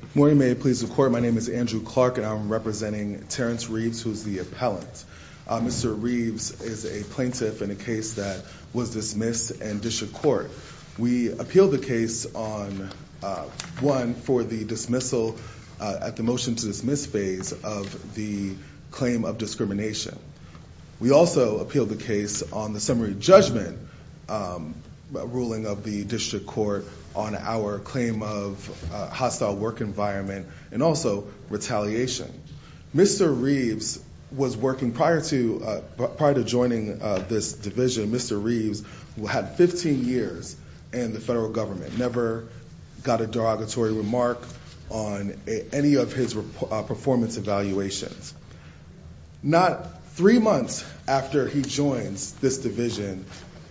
Good morning. May it please the court. My name is Andrew Clark, and I'm representing Terrence Reeves, who's the appellant. Mr. Reeves is a plaintiff in a case that was dismissed in district court. We appealed the case on one for the dismissal at the motion to dismiss phase of the claim of discrimination. We also appealed the case on the summary judgment ruling of the district court on our claim of hostile work environment and also retaliation. Mr. Reeves was working prior to joining this division. Mr. Reeves had 15 years in the federal government, never got a derogatory remark on any of his performance evaluations. Not three months after he joins this division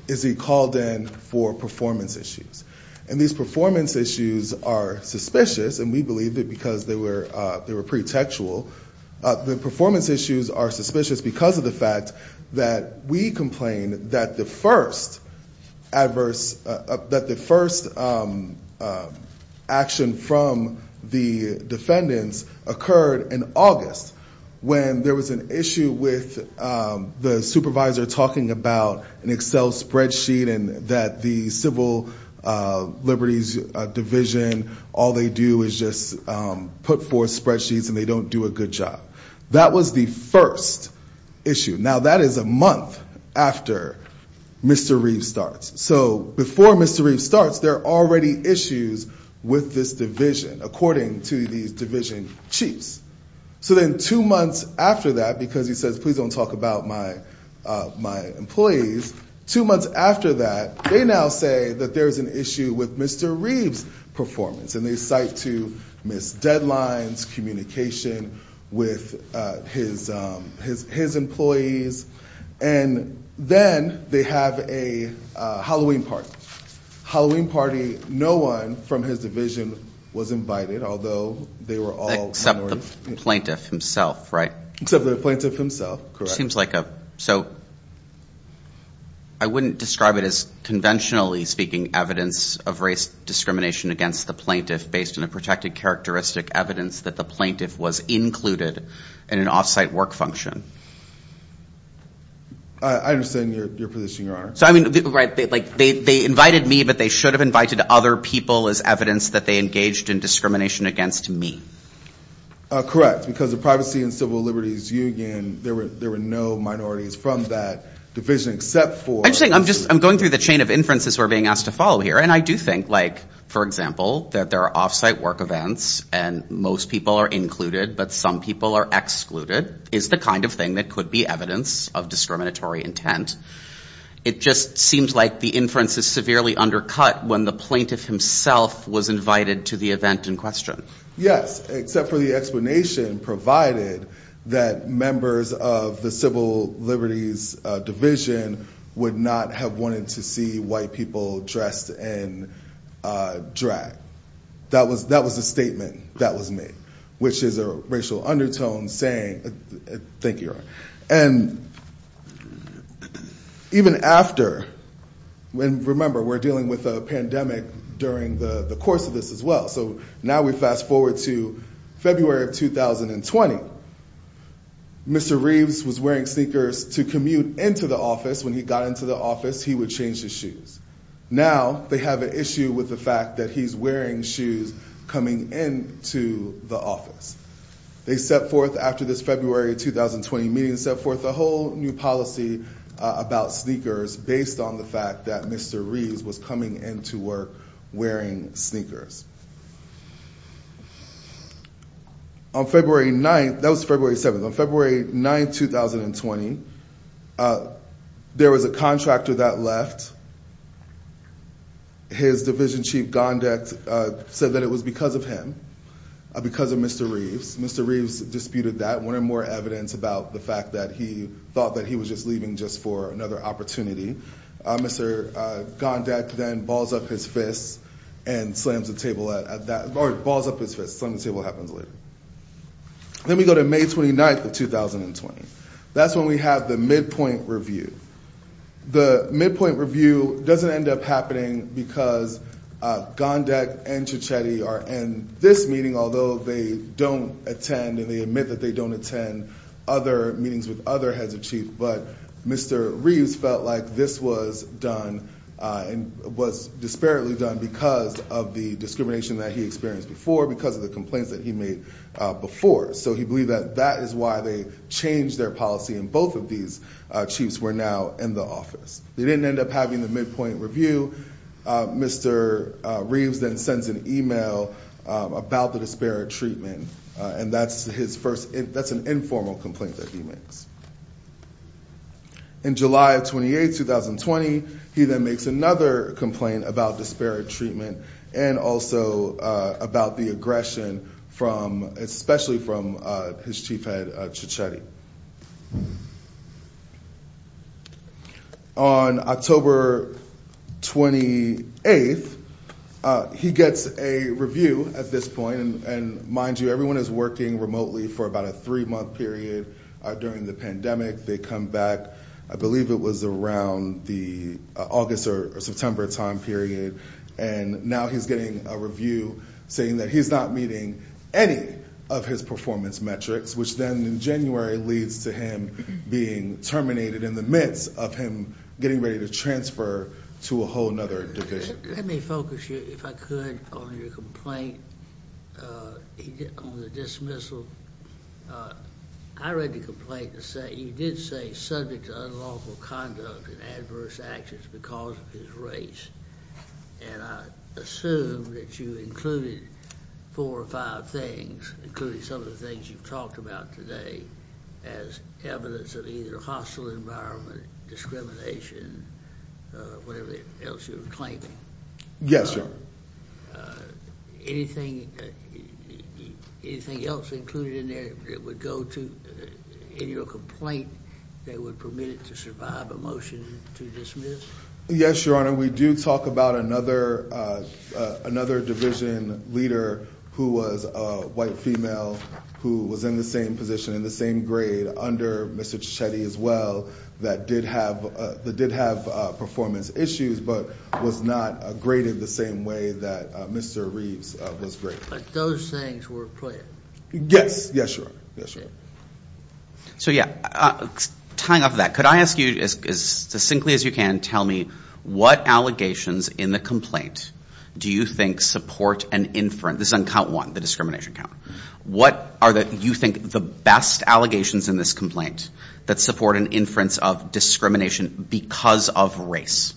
is he called in for performance issues. And these performance issues are suspicious, and we believe that because they were pretty textual. The performance issues are suspicious because of the fact that we complain that the first adverse, that the first action from the defendants occurred in August, when there was an issue with the supervisor talking about an Excel spreadsheet and that the Civil Liberties Division, all they do is just put forth spreadsheets and they don't do a good job. That was the first issue. Now, that is a month after Mr. Reeves starts. So before Mr. Reeves starts, there are already issues with this division, according to these division chiefs. So then two months after that, because he says, please don't talk about my employees, two months after that, they now say that there's an issue with Mr. Reeves' performance. And they cite to missed deadlines, communication with his employees. And then they have a Halloween party. Halloween party, no one from his division was invited, although they were all- Except the plaintiff himself, right? Except the plaintiff himself, correct. It seems like a, so I wouldn't describe it as conventionally speaking evidence of race discrimination against the plaintiff, based on a protected characteristic evidence that the plaintiff was included in an off-site work function. I understand your position, Your Honor. So, I mean, they invited me, but they should have invited other people as evidence that they engaged in discrimination against me. Correct, because the Privacy and Civil Liberties Union, there were no minorities from that division, except for- I'm just saying, I'm just, I'm going through the chain of inferences we're being asked to follow here. And I do think, like, for example, that there are off-site work events and most people are included, but some people are excluded, is the kind of thing that could be evidence of discriminatory intent. It just seems like the inference is severely undercut when the plaintiff himself was invited to the event in question. Yes, except for the explanation provided that members of the Civil Liberties Division would not have wanted to see white people dressed in drag. That was a statement that was made, which is a racial undertone saying, thank you, Your Honor. And even after, remember, we're dealing with a pandemic during the course of this as well. So now we fast forward to February of 2020. Mr. Reeves was wearing sneakers to commute into the office. When he got into the office, he would change his shoes. Now they have an issue with the fact that he's wearing shoes coming into the office. They set forth after this February 2020 meeting, set forth a whole new policy about sneakers based on the fact that Mr. Reeves was coming into work wearing sneakers. On February 9th, that was February 7th, on February 9th, 2020, there was a contractor that left. His division chief, Gondek, said that it was because of him, because of Mr. Reeves. Mr. Reeves disputed that, wanted more evidence about the fact that he thought that he was just leaving just for another opportunity. Mr. Gondek then balls up his fist and slams the table at that, or balls up his fist, slams the table, happens later. Then we go to May 29th of 2020. That's when we have the midpoint review. The midpoint review doesn't end up happening because Gondek and Chichetti are in this meeting. Although they don't attend and they admit that they don't attend other meetings with other heads of chief. But Mr. Reeves felt like this was done and was disparately done because of the discrimination that he experienced before, because of the complaints that he made before. So he believed that that is why they changed their policy. And both of these chiefs were now in the office. They didn't end up having the midpoint review. Mr. Reeves then sends an email about the disparate treatment. And that's his first. That's an informal complaint that he makes. In July 28th, 2020, he then makes another complaint about disparate treatment and also about the aggression from especially from his chief had Chichetti. On October 28th, he gets a review at this point. And mind you, everyone is working remotely for about a three month period during the pandemic. They come back. I believe it was around the August or September time period. And now he's getting a review saying that he's not meeting any of his performance metrics, which then in January leads to him being terminated in the midst of him getting ready to transfer to a whole nother division. Let me focus you, if I could, on your complaint on the dismissal. I read the complaint to say you did say subject to unlawful conduct and adverse actions because of his race. And I assume that you included four or five things, including some of the things you've talked about today, as evidence of either hostile environment, discrimination, whatever else you're claiming. Yes, sir. Anything, anything else included in there that would go to your complaint that would permit it to survive a motion to dismiss? Yes, Your Honor, we do talk about another division leader who was a white female who was in the same position, in the same grade under Mr. Chichetti as well, that did have performance issues, but was not graded the same way that Mr. Reeves was graded. But those things were clear. Yes, yes, Your Honor. So yeah, tying off that, could I ask you, as succinctly as you can, tell me what allegations in the complaint do you think support an inference? This is on count one, the discrimination count. What are the, you think, the best allegations in this complaint that support an inference of discrimination because of race?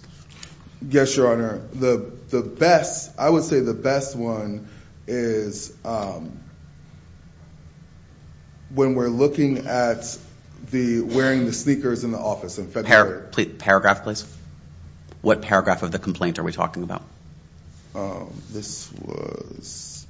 Yes, Your Honor. The best, I would say the best one is when we're looking at the wearing the sneakers in the office in February. Paragraph, please. What paragraph of the complaint are we talking about? This was,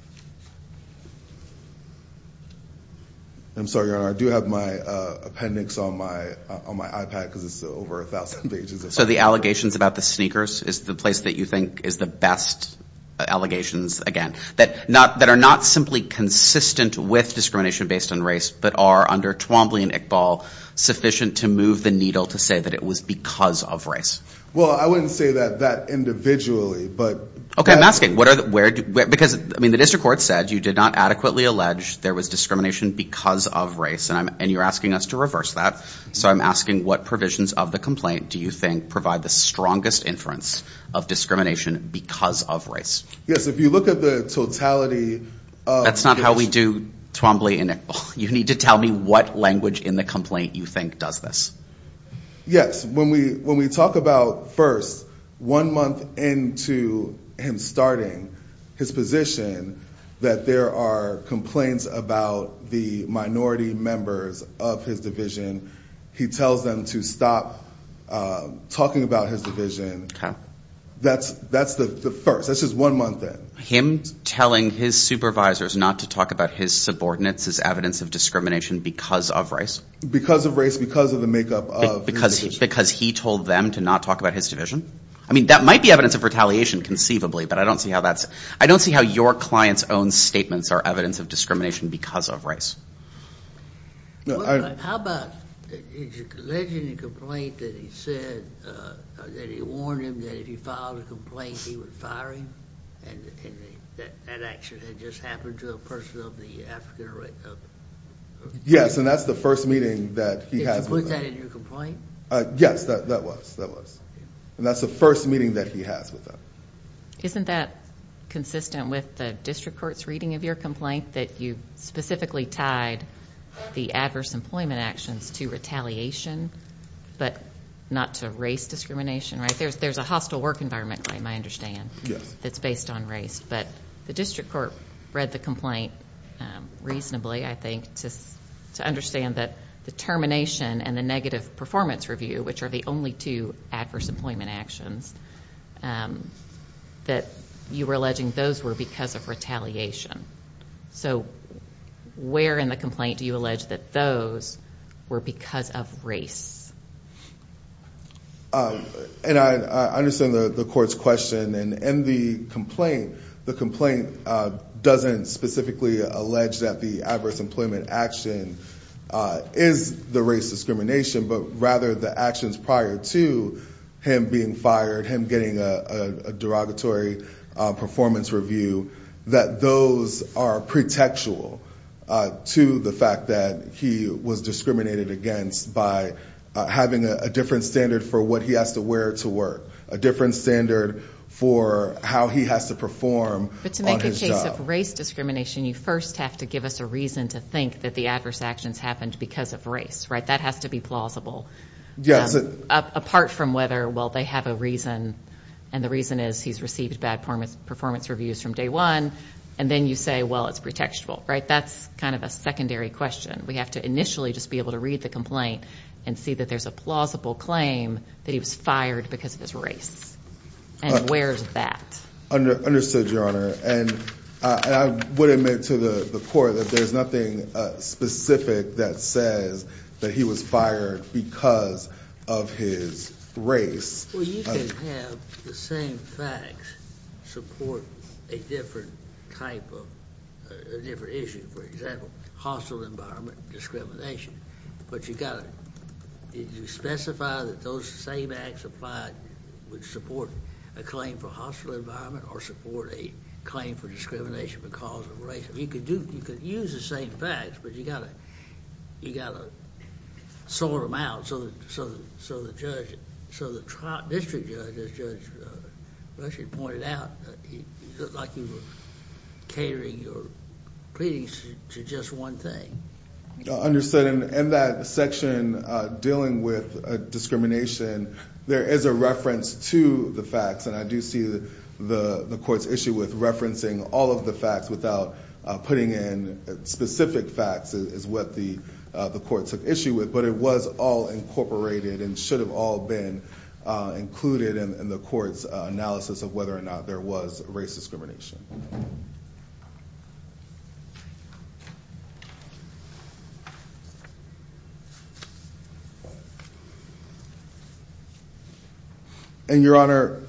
I'm sorry, Your Honor, I do have my appendix on my iPad because it's over a thousand pages. So the allegations about the sneakers is the place that you think is the best allegations, again, that are not simply consistent with discrimination based on race, but are, under Twombly and Iqbal, sufficient to move the needle to say that it was because of race? Well, I wouldn't say that individually, but. Okay, I'm asking, where, because, I mean, the district court said you did not adequately allege there was discrimination because of race, and you're asking us to reverse that. So I'm asking what provisions of the complaint do you think provide the strongest inference of discrimination because of race? Yes, if you look at the totality. That's not how we do Twombly and Iqbal. You need to tell me what language in the complaint you think does this. Yes, when we talk about first, one month into him starting his position that there are complaints about the minority members of his division, he tells them to stop talking about his division. That's the first. That's just one month in. Him telling his supervisors not to talk about his subordinates as evidence of discrimination because of race? Because of race, because of the makeup of his division. Because he told them to not talk about his division? I mean, that might be evidence of retaliation conceivably, but I don't see how that's, I don't see how your client's own statements are evidence of discrimination because of race. How about, is your alleging the complaint that he said, that he warned him that if he filed a complaint, he would fire him? And that action had just happened to a person of the African race? Yes, and that's the first meeting that he has with them. Did you put that in your complaint? Yes, that was, that was. And that's the first meeting that he has with them. Isn't that consistent with the district court's reading of your complaint, that you specifically tied the adverse employment actions to retaliation, but not to race discrimination? There's a hostile work environment claim, I understand, that's based on race. But the district court read the complaint reasonably, I think, to understand that the termination and the negative performance review, which are the only two adverse employment actions, that you were alleging those were because of retaliation. So, where in the complaint do you allege that those were because of race? And I understand the court's question. And in the complaint, the complaint doesn't specifically allege that the adverse employment action is the race discrimination. But rather the actions prior to him being fired, him getting a derogatory performance review, that those are pretextual to the fact that he was discriminated against by having a different standard for what he has to wear to work. A different standard for how he has to perform on his job. But to make a case of race discrimination, you first have to give us a reason to think that the adverse actions happened because of race, right? That has to be plausible. Apart from whether, well, they have a reason, and the reason is he's received bad performance reviews from day one. And then you say, well, it's pretextual, right? That's kind of a secondary question. We have to initially just be able to read the complaint and see that there's a plausible claim that he was fired because of his race. And where's that? Understood, Your Honor. And I would admit to the court that there's nothing specific that says that he was fired because of his race. Well, you can have the same facts support a different type of, a different issue. For example, hostile environment discrimination. But you've got to specify that those same acts applied would support a claim for hostile environment or support a claim for discrimination because of race. You could use the same facts, but you've got to sort them out so the district judge, as Judge Rushing pointed out, it looked like you were catering your pleadings to just one thing. Understood. In that section dealing with discrimination, there is a reference to the facts, and I do see the court's issue with referencing all of the facts without putting in specific facts is what the court took issue with. But it was all incorporated and should have all been included in the court's analysis of whether or not there was race discrimination. And, Your Honor,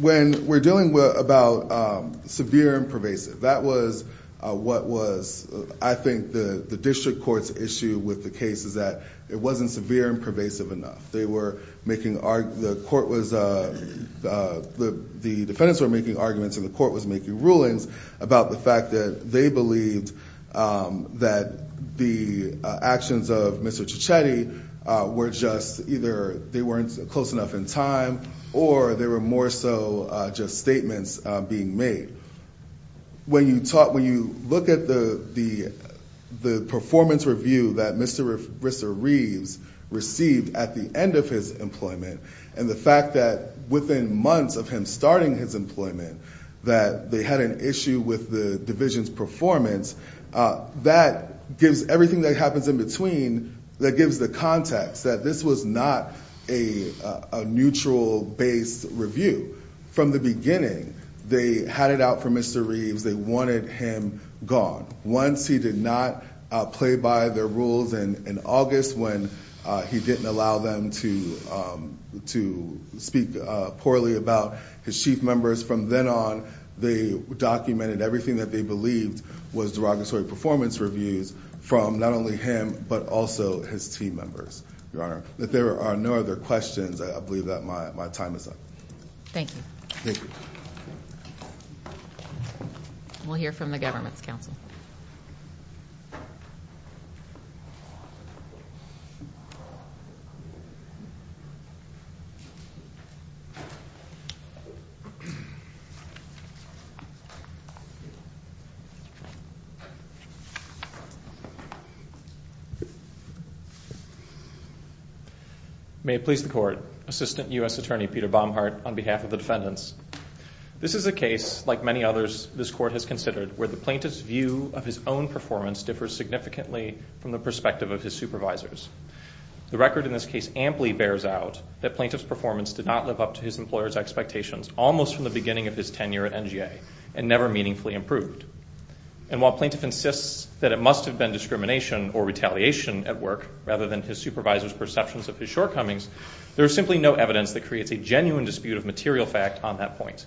when we're dealing about severe and pervasive, that was what was, I think, the district court's issue with the case is that it wasn't severe and pervasive enough. They were making, the court was, the defendants were making arguments and the court was making rulings about the fact that they believed that the actions of Mr. When you talk, when you look at the performance review that Mr. Reeves received at the end of his employment, and the fact that within months of him starting his employment, that they had an issue with the division's performance, that gives everything that happens in between, that gives the context that this was not a neutral based review. From the beginning, they had it out for Mr. Reeves, they wanted him gone. Once he did not play by their rules in August, when he didn't allow them to speak poorly about his chief members. From then on, they documented everything that they believed was derogatory performance reviews from not only him but also his team members. Your Honor, if there are no other questions, I believe that my time is up. Thank you. We'll hear from the government's counsel. May it please the court, Assistant U.S. Attorney Peter Baumhart on behalf of the defendants. This is a case, like many others, this court has considered where the plaintiff's view of his own performance differs greatly from that of the defendant's. The record in this case amply bears out that plaintiff's performance did not live up to his employer's expectations, almost from the beginning of his tenure at NGA, and never meaningfully improved. And while plaintiff insists that it must have been discrimination or retaliation at work, rather than his supervisor's perceptions of his shortcomings, there is simply no evidence that creates a genuine dispute of material fact on that point.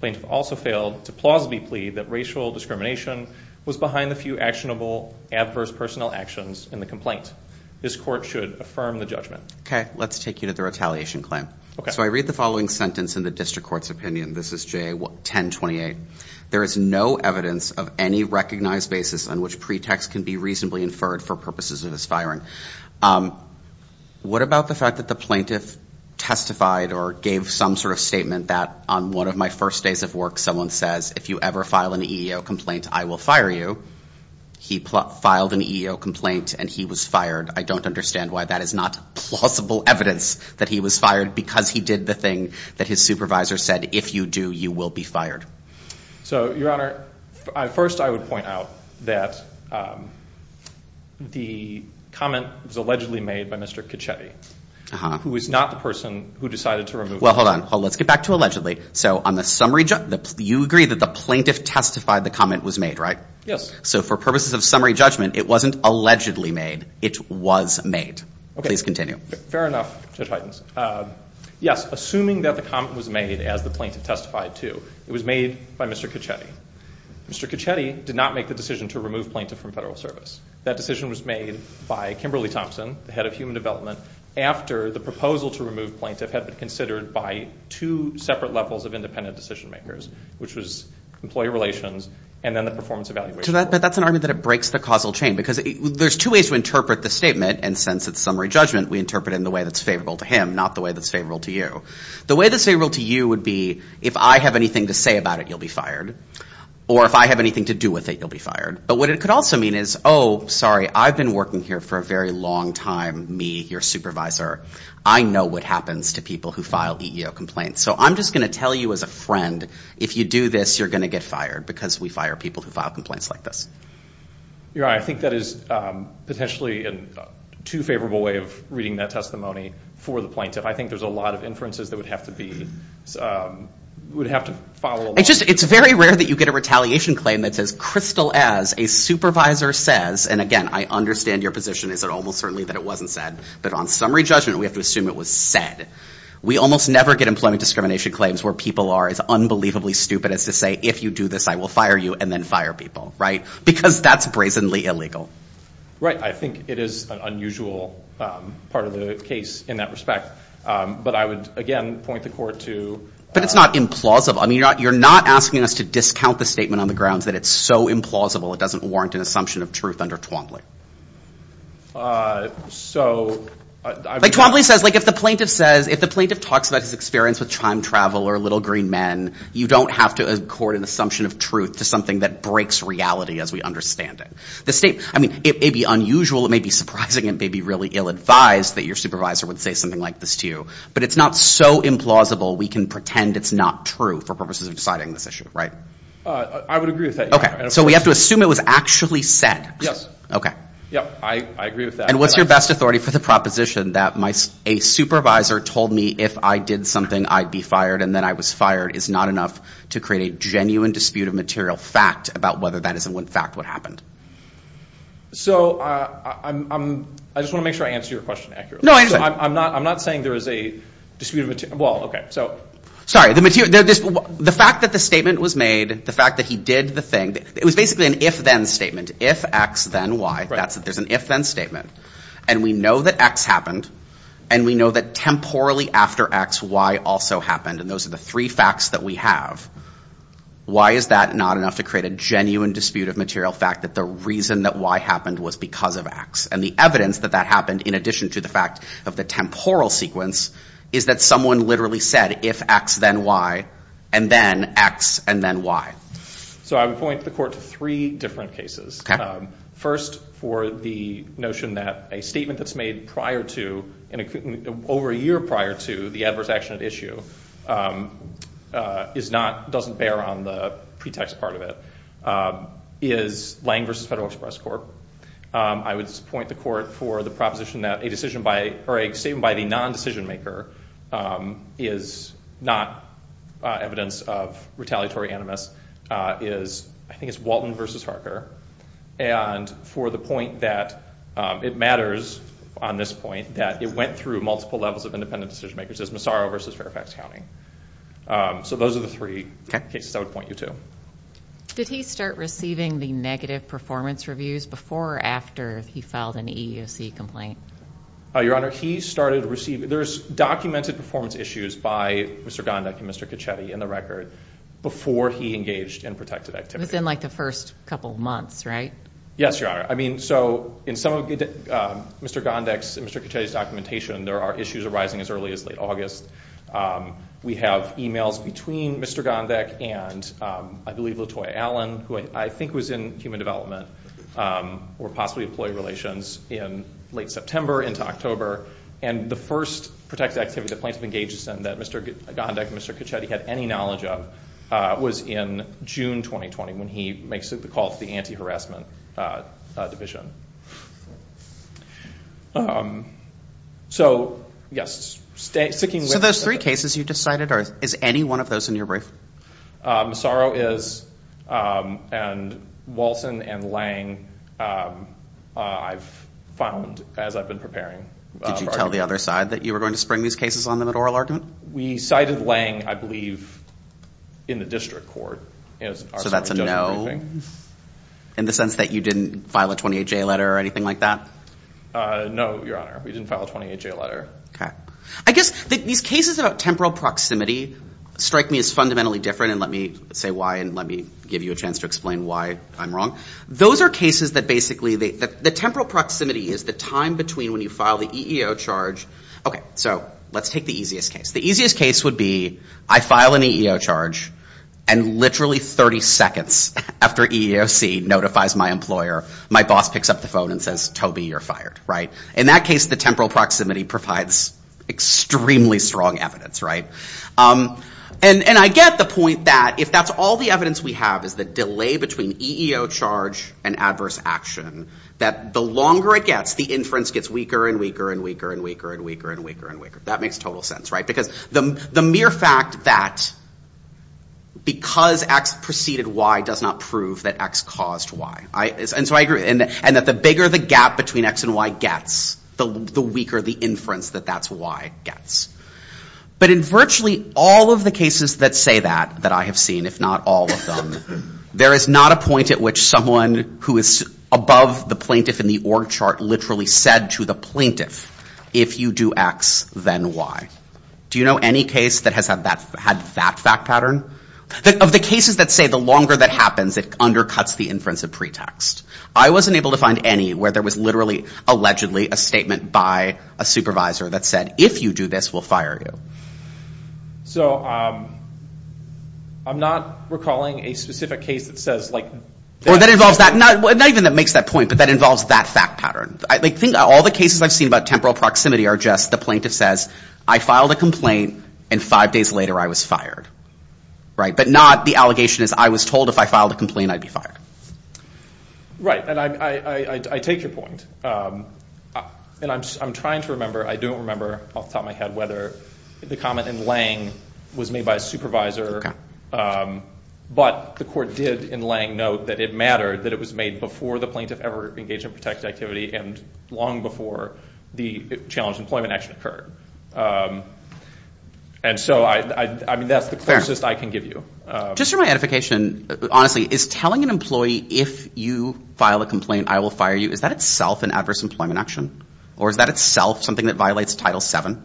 Plaintiff also failed to plausibly plead that racial discrimination was behind the few actionable adverse personnel actions in the complaint. This court should affirm the judgment. Okay, let's take you to the retaliation claim. So I read the following sentence in the district court's opinion, this is JA 1028. There is no evidence of any recognized basis on which pretext can be reasonably inferred for purposes of his firing. What about the fact that the plaintiff testified or gave some sort of statement that on one of my first days of work, someone says, if you ever file an EEO complaint, I will fire you. He filed an EEO complaint and he was fired. I don't understand why that is not plausible evidence that he was fired because he did the thing that his supervisor said, if you do, you will be fired. So your Honor, first I would point out that the comment was allegedly made by Mr. Kachetti, who is not the person who decided to remove him. Well, hold on, let's get back to allegedly. So on the summary, you agree that the plaintiff testified the comment was made, right? Yes. So for purposes of summary judgment, it wasn't allegedly made, it was made. Fair enough, Judge Huygens. Yes, assuming that the comment was made as the plaintiff testified to, it was made by Mr. Kachetti. Mr. Kachetti did not make the decision to remove plaintiff from federal service. That decision was made by Kimberly Thompson, the head of human development, after the proposal to remove plaintiff had been considered by two separate levels of independent decision makers, which was employee relations and then the performance evaluation. But that's an argument that it breaks the causal chain, because there's two ways to interpret the statement, and since it's summary judgment, we interpret it in the way that's favorable to him, not the way that's favorable to you. The way that's favorable to you would be, if I have anything to say about it, you'll be fired. Or if I have anything to do with it, you'll be fired. But what it could also mean is, oh, sorry, I've been working here for a very long time, me, your supervisor. I know what happens to people who file EEO complaints. So I'm just going to tell you as a friend, if you do this, you're going to get fired, because we fire people who file complaints like this. You're right. I think that is potentially a too favorable way of reading that testimony for the plaintiff. I think there's a lot of inferences that would have to be, would have to follow along. It's just, it's very rare that you get a retaliation claim that says, crystal as. A supervisor says, and again, I understand your position is that almost certainly that it wasn't said. But on summary judgment, we have to assume it was said. We almost never get employment discrimination claims where people are as unbelievably stupid as to say, if you do this, I will fire you, and then fire people, right? Because that's brazenly illegal. Right. I think it is an unusual part of the case in that respect. But I would, again, point the court to. But it's not implausible. I mean, you're not asking us to discount the statement on the grounds that it's so implausible it doesn't warrant an assumption of truth under Twombly. So. Like Twombly says, like if the plaintiff says, if the plaintiff talks about his experience with time travel or Little Green Men, you don't have to accord an assumption of truth to something that breaks reality as we understand it. The state, I mean, it may be unusual, it may be surprising, it may be really ill-advised that your supervisor would say something like this to you. But it's not so implausible we can pretend it's not true for purposes of deciding this issue, right? I would agree with that. Okay. So we have to assume it was actually said. Yes. I agree with that. And what's your best authority for the proposition that a supervisor told me if I did something I'd be fired and then I was fired is not enough to create a genuine dispute of material fact about whether that is in fact what happened? So I just want to make sure I answer your question accurately. No, I understand. I'm not saying there is a dispute of material fact. Sorry, the fact that the statement was made, the fact that he did the thing, it was basically an if-then statement. If X, then Y. There's an if-then statement. And we know that X happened, and we know that temporally after X, Y also happened. And those are the three facts that we have. Why is that not enough to create a genuine dispute of material fact that the reason that Y happened was because of X? And the evidence that that happened, in addition to the fact of the temporal sequence, is that someone literally said if X, then Y, and then X, and then Y. So I would point the court to three different cases. First, for the notion that a statement that's made over a year prior to the adverse action at issue doesn't bear on the pretext part of it, is Lange v. Federal Express Corp. I would point the court for the proposition that a decision by or a statement by the non-decision maker is not evidence of retaliatory animus is I think it's Walton v. Harker. And for the point that it matters on this point, that it went through multiple levels of independent decision makers is Massaro v. Fairfax County. So those are the three cases I would point you to. Did he start receiving the negative performance reviews before or after he filed an EEOC complaint? Your Honor, he started receiving. There's documented performance issues by Mr. Gondek and Mr. Caccetti in the record before he engaged in protective activity. It was in like the first couple months, right? Yes, Your Honor. I mean, so in some of Mr. Gondek's and Mr. Caccetti's documentation, there are issues arising as early as late August. We have emails between Mr. Gondek and I believe Latoya Allen, who I think was in human development, or possibly employee relations in late September into October. And the first protective activity the plaintiff engages in that Mr. Gondek and Mr. Caccetti had any knowledge of was in June 2020 when he makes the call to the anti-harassment division. So, yes. So those three cases you decided, is any one of those in your brief? Massaro is, and Walton and Lange I've found as I've been preparing. Did you tell the other side that you were going to spring these cases on them at oral argument? We cited Lange, I believe, in the district court. So that's a no? In the sense that you didn't file a 28-J letter or anything like that? No, Your Honor. We didn't file a 28-J letter. Okay. I guess these cases about temporal proximity strike me as fundamentally different, and let me say why and let me give you a chance to explain why I'm wrong. Those are cases that basically the temporal proximity is the time between when you file the EEO charge Okay, so let's take the easiest case. The easiest case would be I file an EEO charge and literally 30 seconds after EEOC notifies my employer, my boss picks up the phone and says, Toby, you're fired, right? In that case, the temporal proximity provides extremely strong evidence, right? And I get the point that if that's all the evidence we have is the delay between EEO charge and adverse action, that the longer it gets, the inference gets weaker and weaker and weaker and weaker and weaker and weaker and weaker. That makes total sense, right? Because the mere fact that because X preceded Y does not prove that X caused Y. And that the bigger the gap between X and Y gets, the weaker the inference that that's Y gets. But in virtually all of the cases that say that, that I have seen, if not all of them, there is not a point at which someone who is above the plaintiff in the org chart literally said to the plaintiff, if you do X, then Y. Do you know any case that has had that fact pattern? Of the cases that say the longer that happens, it undercuts the inference of pretext. I wasn't able to find any where there was literally allegedly a statement by a supervisor that said, if you do this, we'll fire you. I'm not recalling a specific case that says... Not even that makes that point, but that involves that fact pattern. All the cases I've seen about temporal proximity are just the plaintiff says, I filed a complaint and five days later I was fired. But not the allegation is I was told if I filed a complaint, I'd be fired. Right. And I take your point. And I'm trying to remember, I don't remember off the top of my head whether the comment in Lange was made by a supervisor, but the court did in Lange note that it mattered, that it was made before the plaintiff ever engaged in protected activity and long before the challenged employment action occurred. And so, I mean, that's the closest I can give you. Just for my edification, honestly, is telling an employee, if you file a complaint, I will fire you, is that itself an adverse employment action? Or is that itself something that violates Title VII?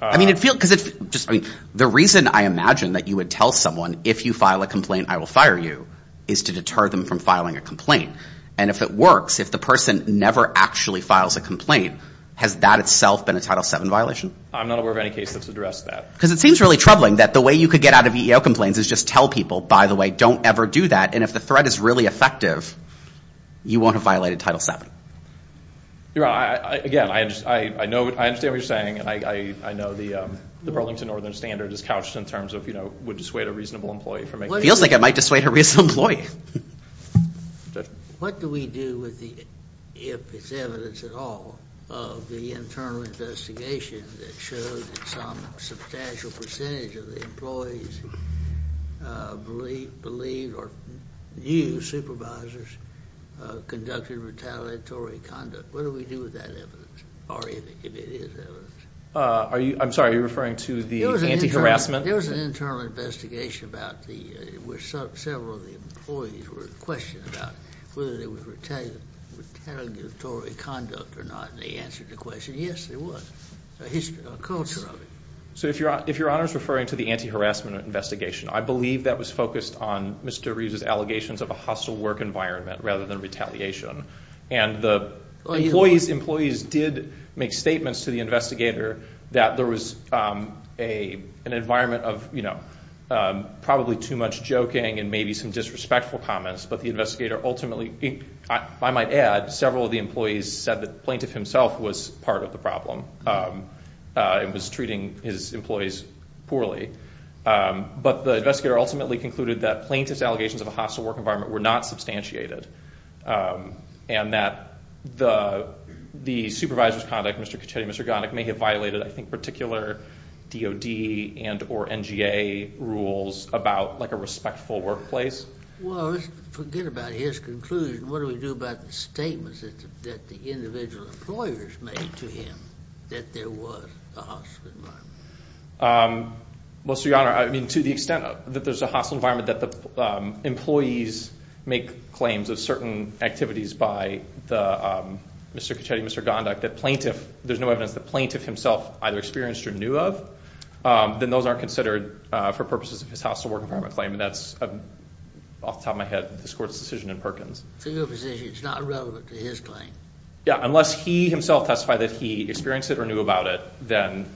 I mean, the reason I imagine that you would tell someone if you file a complaint, I will fire you, is to deter them from filing a complaint. And if it works, if the person never actually files a complaint, has that itself been a Title VII violation? I'm not aware of any case that's addressed that. Because it seems really troubling that the way you could get out of EEO complaints is just tell people, by the way, don't ever do that. And if the threat is really effective, you won't violate a Title VII. I understand what you're saying. I know the Burlington Northern Standard is couched in terms of, you know, would dissuade a reasonable employee. Feels like it might dissuade a reasonable employee. What do we do if it's evidence at all of the internal investigation that shows that some substantial percentage of the employees believe or view supervisors conducted retaliatory conduct? What do we do with that evidence? Or if it is evidence? I'm sorry, are you referring to the anti-harassment? There was an internal investigation about the, where several of the employees were questioned about whether there was retaliatory conduct or not. And they answered the question, yes, there was. A history, a culture of it. So if Your Honor is referring to the anti-harassment investigation, I believe that was focused on Mr. Reeves' allegations of a hostile work environment rather than retaliation. And the employees did make statements to the investigator that there was an environment of, you know, probably too much joking and maybe some disrespectful comments. But the investigator ultimately, I might add, several of the employees said that the plaintiff himself was part of the problem. It was treating his employees poorly. But the investigator ultimately concluded that plaintiff's allegations of a hostile work environment were not substantiated. And that the supervisor's conduct, Mr. Caccetti, Mr. Gonnick, may have violated, I think, particular DOD and or NGA rules about, like, a respectful workplace. Well, forget about his conclusion. What do we do about the statements that the individual employers made to him that there was a hostile environment? Well, so Your Honor, I mean, to the extent that there's a hostile environment that the employees make claims of certain activities by Mr. Caccetti, Mr. Gonnick, that plaintiff there's no evidence that plaintiff himself either experienced or knew of, then those aren't considered for purposes of his hostile work environment claim. And that's off the top of my head, this Court's decision in Perkins. So your position is it's not relevant to his claim? Yeah, unless he himself testified that he experienced it or knew about it, then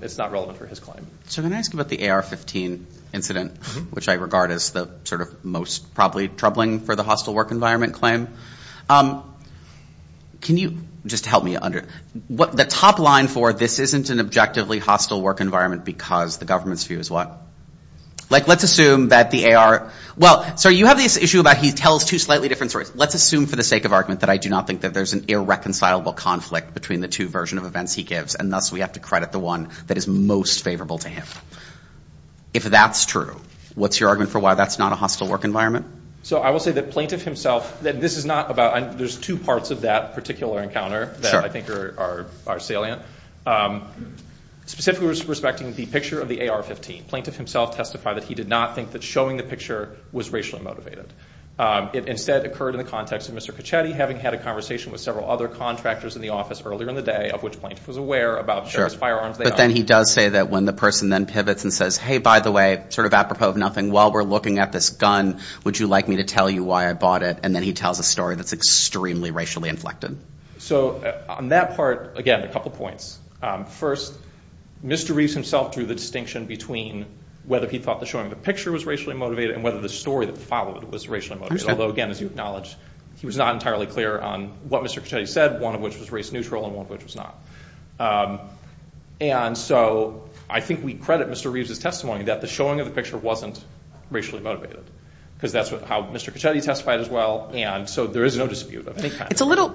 it's not relevant for his claim. So can I ask you about the AR-15 incident, which I regard as the sort of most probably troubling for the hostile work environment claim? Can you just help me understand? The top line for this isn't an objectively hostile work environment because the government's view is what? Like, let's assume that the AR, well, so you have this issue about he tells two slightly different stories. Let's assume for the sake of argument that I do not think that there's an irreconcilable conflict between the two versions of events he gives, and thus we have to credit the one that is most favorable to him. If that's true, what's your argument for why that's not a hostile work environment? So I will say that plaintiff himself, this is not about, there's two parts of that particular encounter that I think are salient. Specifically respecting the picture of the AR-15, plaintiff himself testified that he did not think that showing the picture was racially motivated. It instead occurred in the context of Mr. Caccetti having had a conversation with several other contractors in the office earlier in the day, of which plaintiff was aware about the firearms they owned. But then he does say that when the person then pivots and says, hey, by the way, sort of apropos of nothing, while we're looking at this gun, would you like me to tell you why I bought it? And then he tells a story that's extremely racially inflected. So on that part, again, a couple points. First, Mr. Reeves himself drew the distinction between whether he thought that showing the picture was racially motivated and whether the story that followed was racially motivated. Although, again, as you acknowledge, he was not entirely clear on what Mr. Caccetti said, one of which was race neutral and one of which was not. And so I think we credit Mr. Reeves' testimony that the showing of the picture wasn't racially motivated. Because that's how Mr. Caccetti testified as well. And so there is no dispute. It's a little,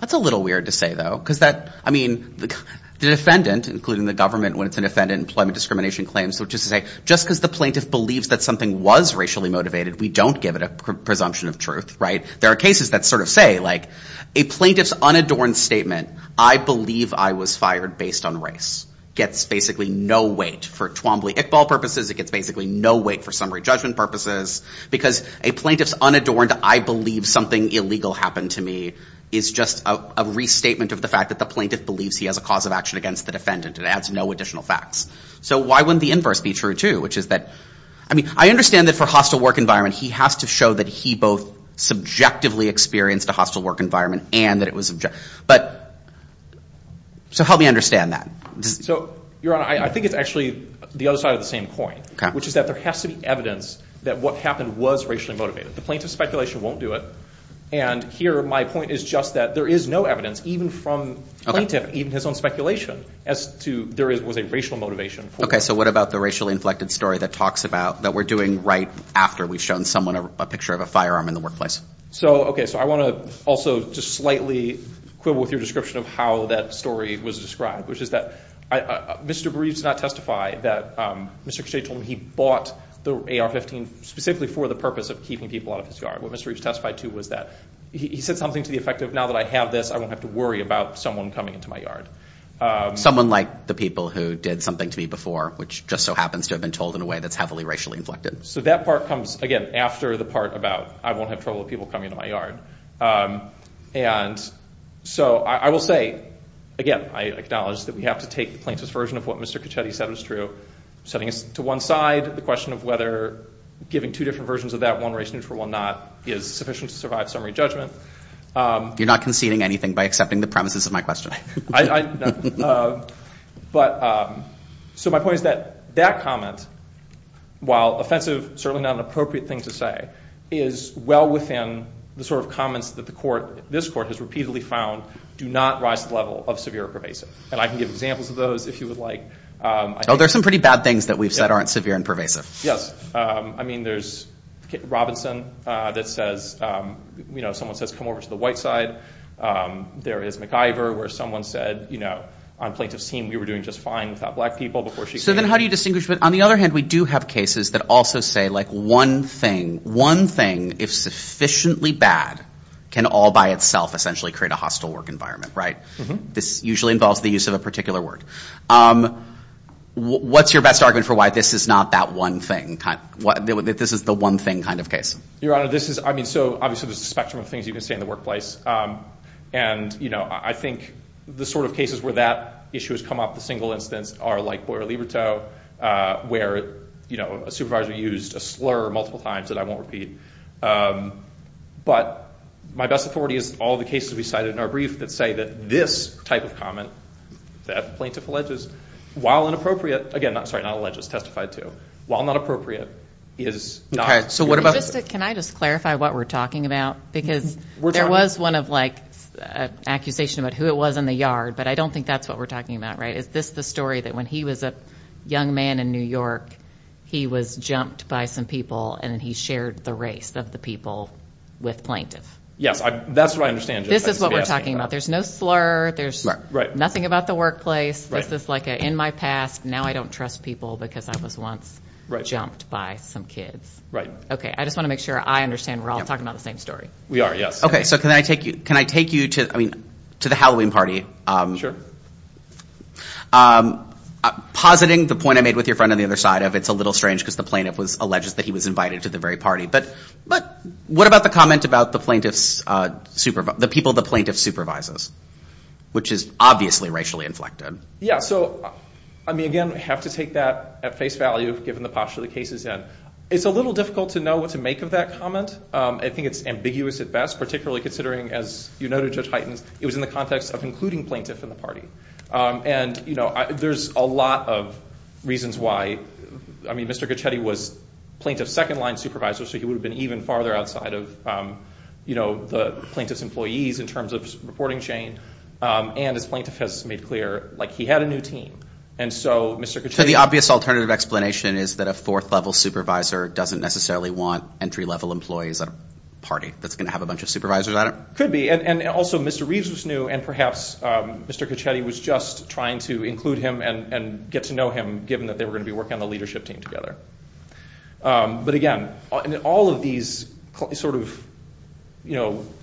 that's a little weird to say, though. Because that, I mean, the defendant, including the government when it's an offendant, employment discrimination claims, which is to say, just because the plaintiff believes that something was racially motivated, we don't give it a presumption of truth, right? There are cases that sort of say like, a plaintiff's unadorned statement, I believe I was fired based on race, gets basically no weight. For Twombly-Iqbal purposes, it gets basically no weight for summary judgment purposes. Because a plaintiff's unadorned, I believe something illegal happened to me, is just a restatement of the fact that the plaintiff believes he has a cause of action against the defendant and adds no additional facts. So why wouldn't the inverse be true, too? Which is that I mean, I understand that for hostile work environment, he has to show that he both subjectively experienced a hostile work environment and that it was But, so help me understand that. So, Your Honor, I think it's actually the other side of the same coin. Okay. Which is that there has to be evidence that what happened was racially motivated. The plaintiff's speculation won't do it. And here, my point is just that there is no evidence, even from the plaintiff, even his own speculation, as to there was a racial motivation. Okay. So what about the racially inflected story that talks about, that we're doing right after we've shown someone a picture of a firearm in the workplace? So, okay. So I want to also just slightly quibble with your description of how that story was described. Which is that Mr. Bereaves did not testify that Mr. Cachet told him he bought the AR-15 specifically for the purpose of keeping people out of his yard. What Mr. Bereaves testified to was that he said something to the effect of now that I have this, I won't have to worry about someone coming into my yard. Someone like the people who did something to me before, which just so happens to have been told in a way that's heavily racially inflected. So that part comes, again, after the part about I won't have trouble with people coming into my yard. And so I will say, again, I acknowledge that we have to take the plaintiff's version of what Mr. Cachet said was true. Setting us to one side, the question of whether giving two different versions of that, one race neutral and one not, is sufficient to survive summary judgment. You're not conceding anything by accepting the premises of my question. So my point is that that comment, while offensive, certainly not an appropriate thing to say, is well within the sort of comments that this court has repeatedly found do not rise to the level of severe or pervasive. And I can give examples of those if you would like. Oh, there's some pretty bad things that we've said aren't severe and pervasive. I mean, there's Robinson that says, you know, someone says come over to the white side. There is McIver where someone said, you know, on plaintiff's team, we were doing just fine without black people before she came. So then how do you distinguish? But on the other hand, we do have cases that also say, like, one thing, one thing, if sufficiently bad, can all by itself essentially create a hostile work environment, right? This usually involves the use of a particular word. What's your best argument for why this is not that one thing? This is the one thing kind of case. Your Honor, this is, I mean, so obviously there's a spectrum of things you can say in the workplace. And, you know, I think the sort of cases where that issue has come up the single instance are like Boyer-Liberto, where, you know, a supervisor used a slur multiple times that I won't repeat. But my best authority is all the cases we cited in our brief that say that this type of comment that plaintiff alleges, while inappropriate, again, sorry, not alleges, testified to, while not appropriate, is not. Can I just clarify what we're talking about? Because there was one of, like, accusation about who it was in the yard, but I don't think that's what we're talking about, right? Is this the story that when he was a young man in New York, he was jumped by some people and he shared the race of the people with plaintiff? Yes, that's what I understand. This is what we're talking about. There's no slur, there's nothing about the workplace. This is like an in my past, now I don't trust people because I was once jumped by some kids. Right. I just want to make sure I understand we're all talking about the same story. We are, yes. Can I take you to the Halloween party? Sure. Positing the point I made with your friend on the other side of it's a little strange because the plaintiff alleges that he was invited to the very party, but what about the comment about the people the plaintiff supervises? Which is obviously racially inflected. Yeah, so again, we have to take that at face value given the posture the case is in. It's a little difficult to know what to make of that comment. I think it's ambiguous at best, particularly considering, as you noted Judge Heitens, it was in the context of including plaintiff in the party. There's a lot of reasons why. Mr. Gochetti was plaintiff's second line supervisor, so he would have been even farther outside of the plaintiff's employees in terms of reporting chain. And as plaintiff has made clear, he had a new team. So the obvious alternative explanation is that a fourth-level supervisor doesn't necessarily want entry-level employees at a party that's going to have a bunch of supervisors on it? Could be. And also, Mr. Reeves was new, and perhaps Mr. Gochetti was just trying to include him and get to know him, given that they were going to be working on the leadership team together. But again, all of these sort of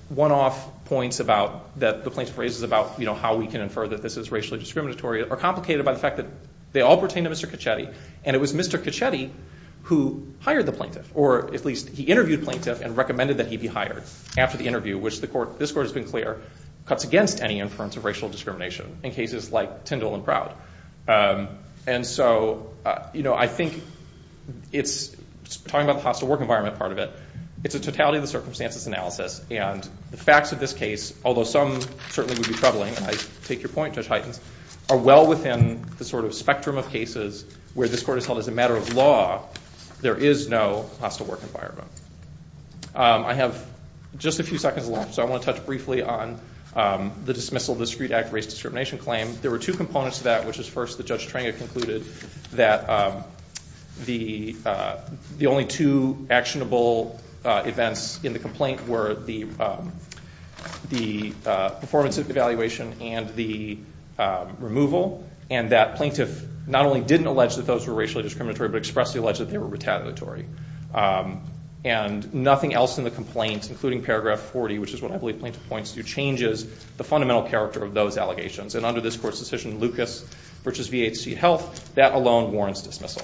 one-off points that the plaintiff raises about how we can infer that this is racially discriminatory are complicated by the fact that they all pertain to Mr. Gochetti, and it was Mr. Gochetti who hired the plaintiff, or at least he interviewed the plaintiff and recommended that he be hired after the interview, which this Court has been clear cuts against any inference of racial discrimination in cases like Tyndall and Proud. And so I think it's, talking about the hostile work environment part of it, it's a totality of the circumstances analysis, and the facts of this case, although some certainly would be troubling, and I take your point, Judge Heitens, are well within the sort of spectrum of cases where this Court has held as a matter of law there is no hostile work environment. I have just a few seconds left, so I want to touch briefly on the dismissal of the Discrete Act race discrimination claim. There were two components to that, which is first that Judge Trenga concluded that the only two actionable events in the complaint were the performance evaluation and the removal, and that plaintiff not only didn't allege that those were racially discriminatory, but expressly alleged that they were retaliatory. And nothing else in the complaint, including paragraph 40, which is what I believe plaintiff points to, changes the fundamental character of those allegations. And under this Court's decision, Lucas v. VHC Health, that alone warrants dismissal.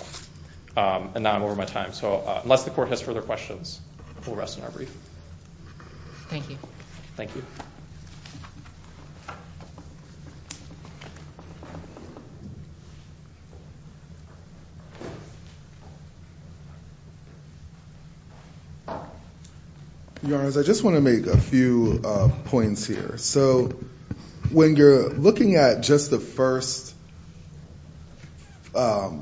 And now I'm over my time, so unless the Court has further questions, we'll rest in our brief. Thank you. Your Honor, I just want to make a few points here. So when you're looking at just the first five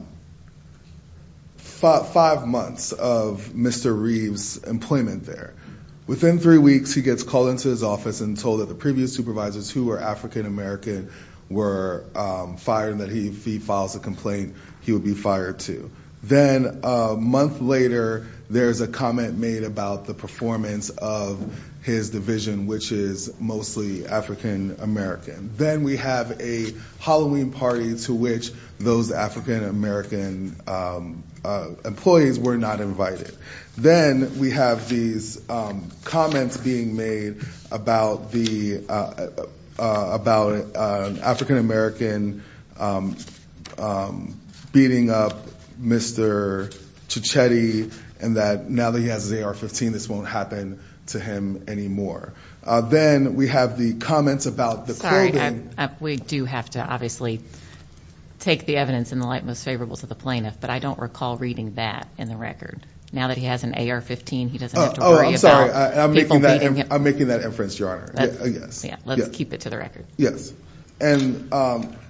months of Mr. Reeves' employment there, within three weeks he gets called into his office and told that the previous supervisors who were African-American were fired and that if he files a complaint, he would be fired too. Then a month later, there's a comment made about the performance of his division, which is mostly African-American. Then we have a Halloween party to which those African-American employees were not invited. Then we have these comments being made about the African-American beating up Mr. Chichetti and that now that he has his AR-15, this won't happen to him anymore. Then we have the comments about the clothing We do have to obviously take the evidence in the light most favorable to the plaintiff, but I don't recall reading that in the record. Now that he has an AR-15, he doesn't have to worry about people beating him. I'm making that inference, Your Honor. Let's keep it to the record.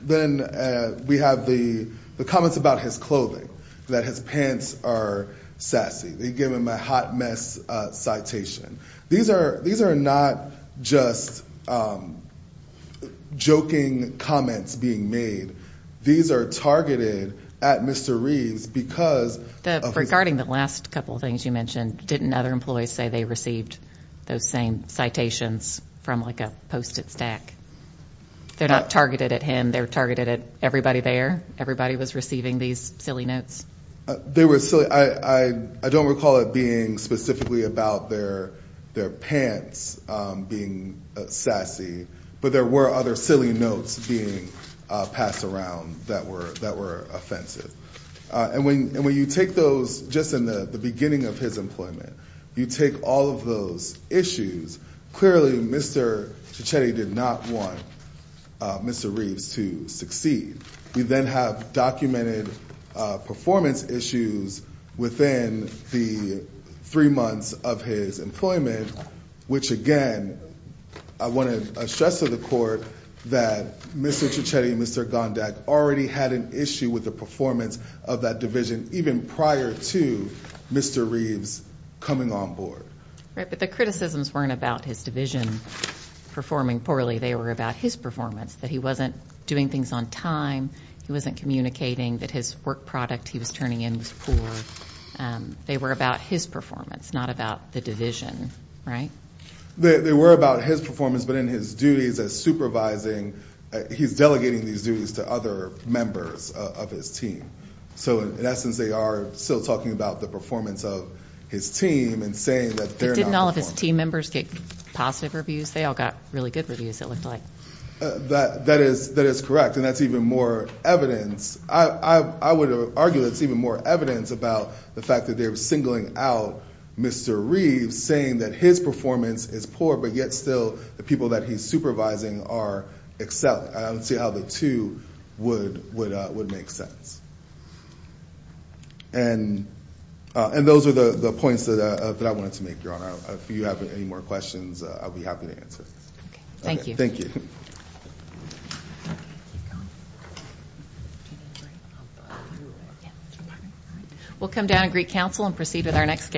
Then we have the comments about his clothing, that his pants are sassy. They give him a hot mess citation. These are not just joking comments being made. These are targeted at Mr. Reeves because Regarding the last couple of things you mentioned, didn't other employees say they received those same citations from like a post-it stack? They're not targeted at him, they're targeted at everybody there? Everybody was receiving these silly notes? I don't recall it being specifically about their pants being sassy, but there were other silly notes being passed around that were offensive. And when you take those, just in the beginning of his employment you take all of those issues, clearly Mr. Cecchetti did not want Mr. Reeves to succeed. We then have documented performance issues within the three months of his employment, which again, I want to stress to the court that Mr. Cecchetti and Mr. Gondak already had an issue with the performance of that division even prior to Mr. Reeves coming on board. Right, but the criticisms weren't about his division performing poorly, they were about his performance. That he wasn't doing things on time, he wasn't communicating, that his work product he was turning in was poor. They were about his performance, not about the division, right? They were about his performance, but in his duties as supervising, he's delegating these duties to other members of his team. So in essence they are still talking about the performance of his team and saying that they're not performing. But didn't all of his team members get positive reviews? They all got really good reviews, it looked like. That is correct, and that's even more evidence. I would argue that it's even more evidence about the fact that they're singling out Mr. Reeves saying that his performance is poor, but yet still the people that he's supervising are excelling. I don't see how the two would make sense. And those are the points that I wanted to make, Your Honor. If you have any more questions, I'll be happy to answer. Thank you. We'll come down and greet counsel and proceed with our next case.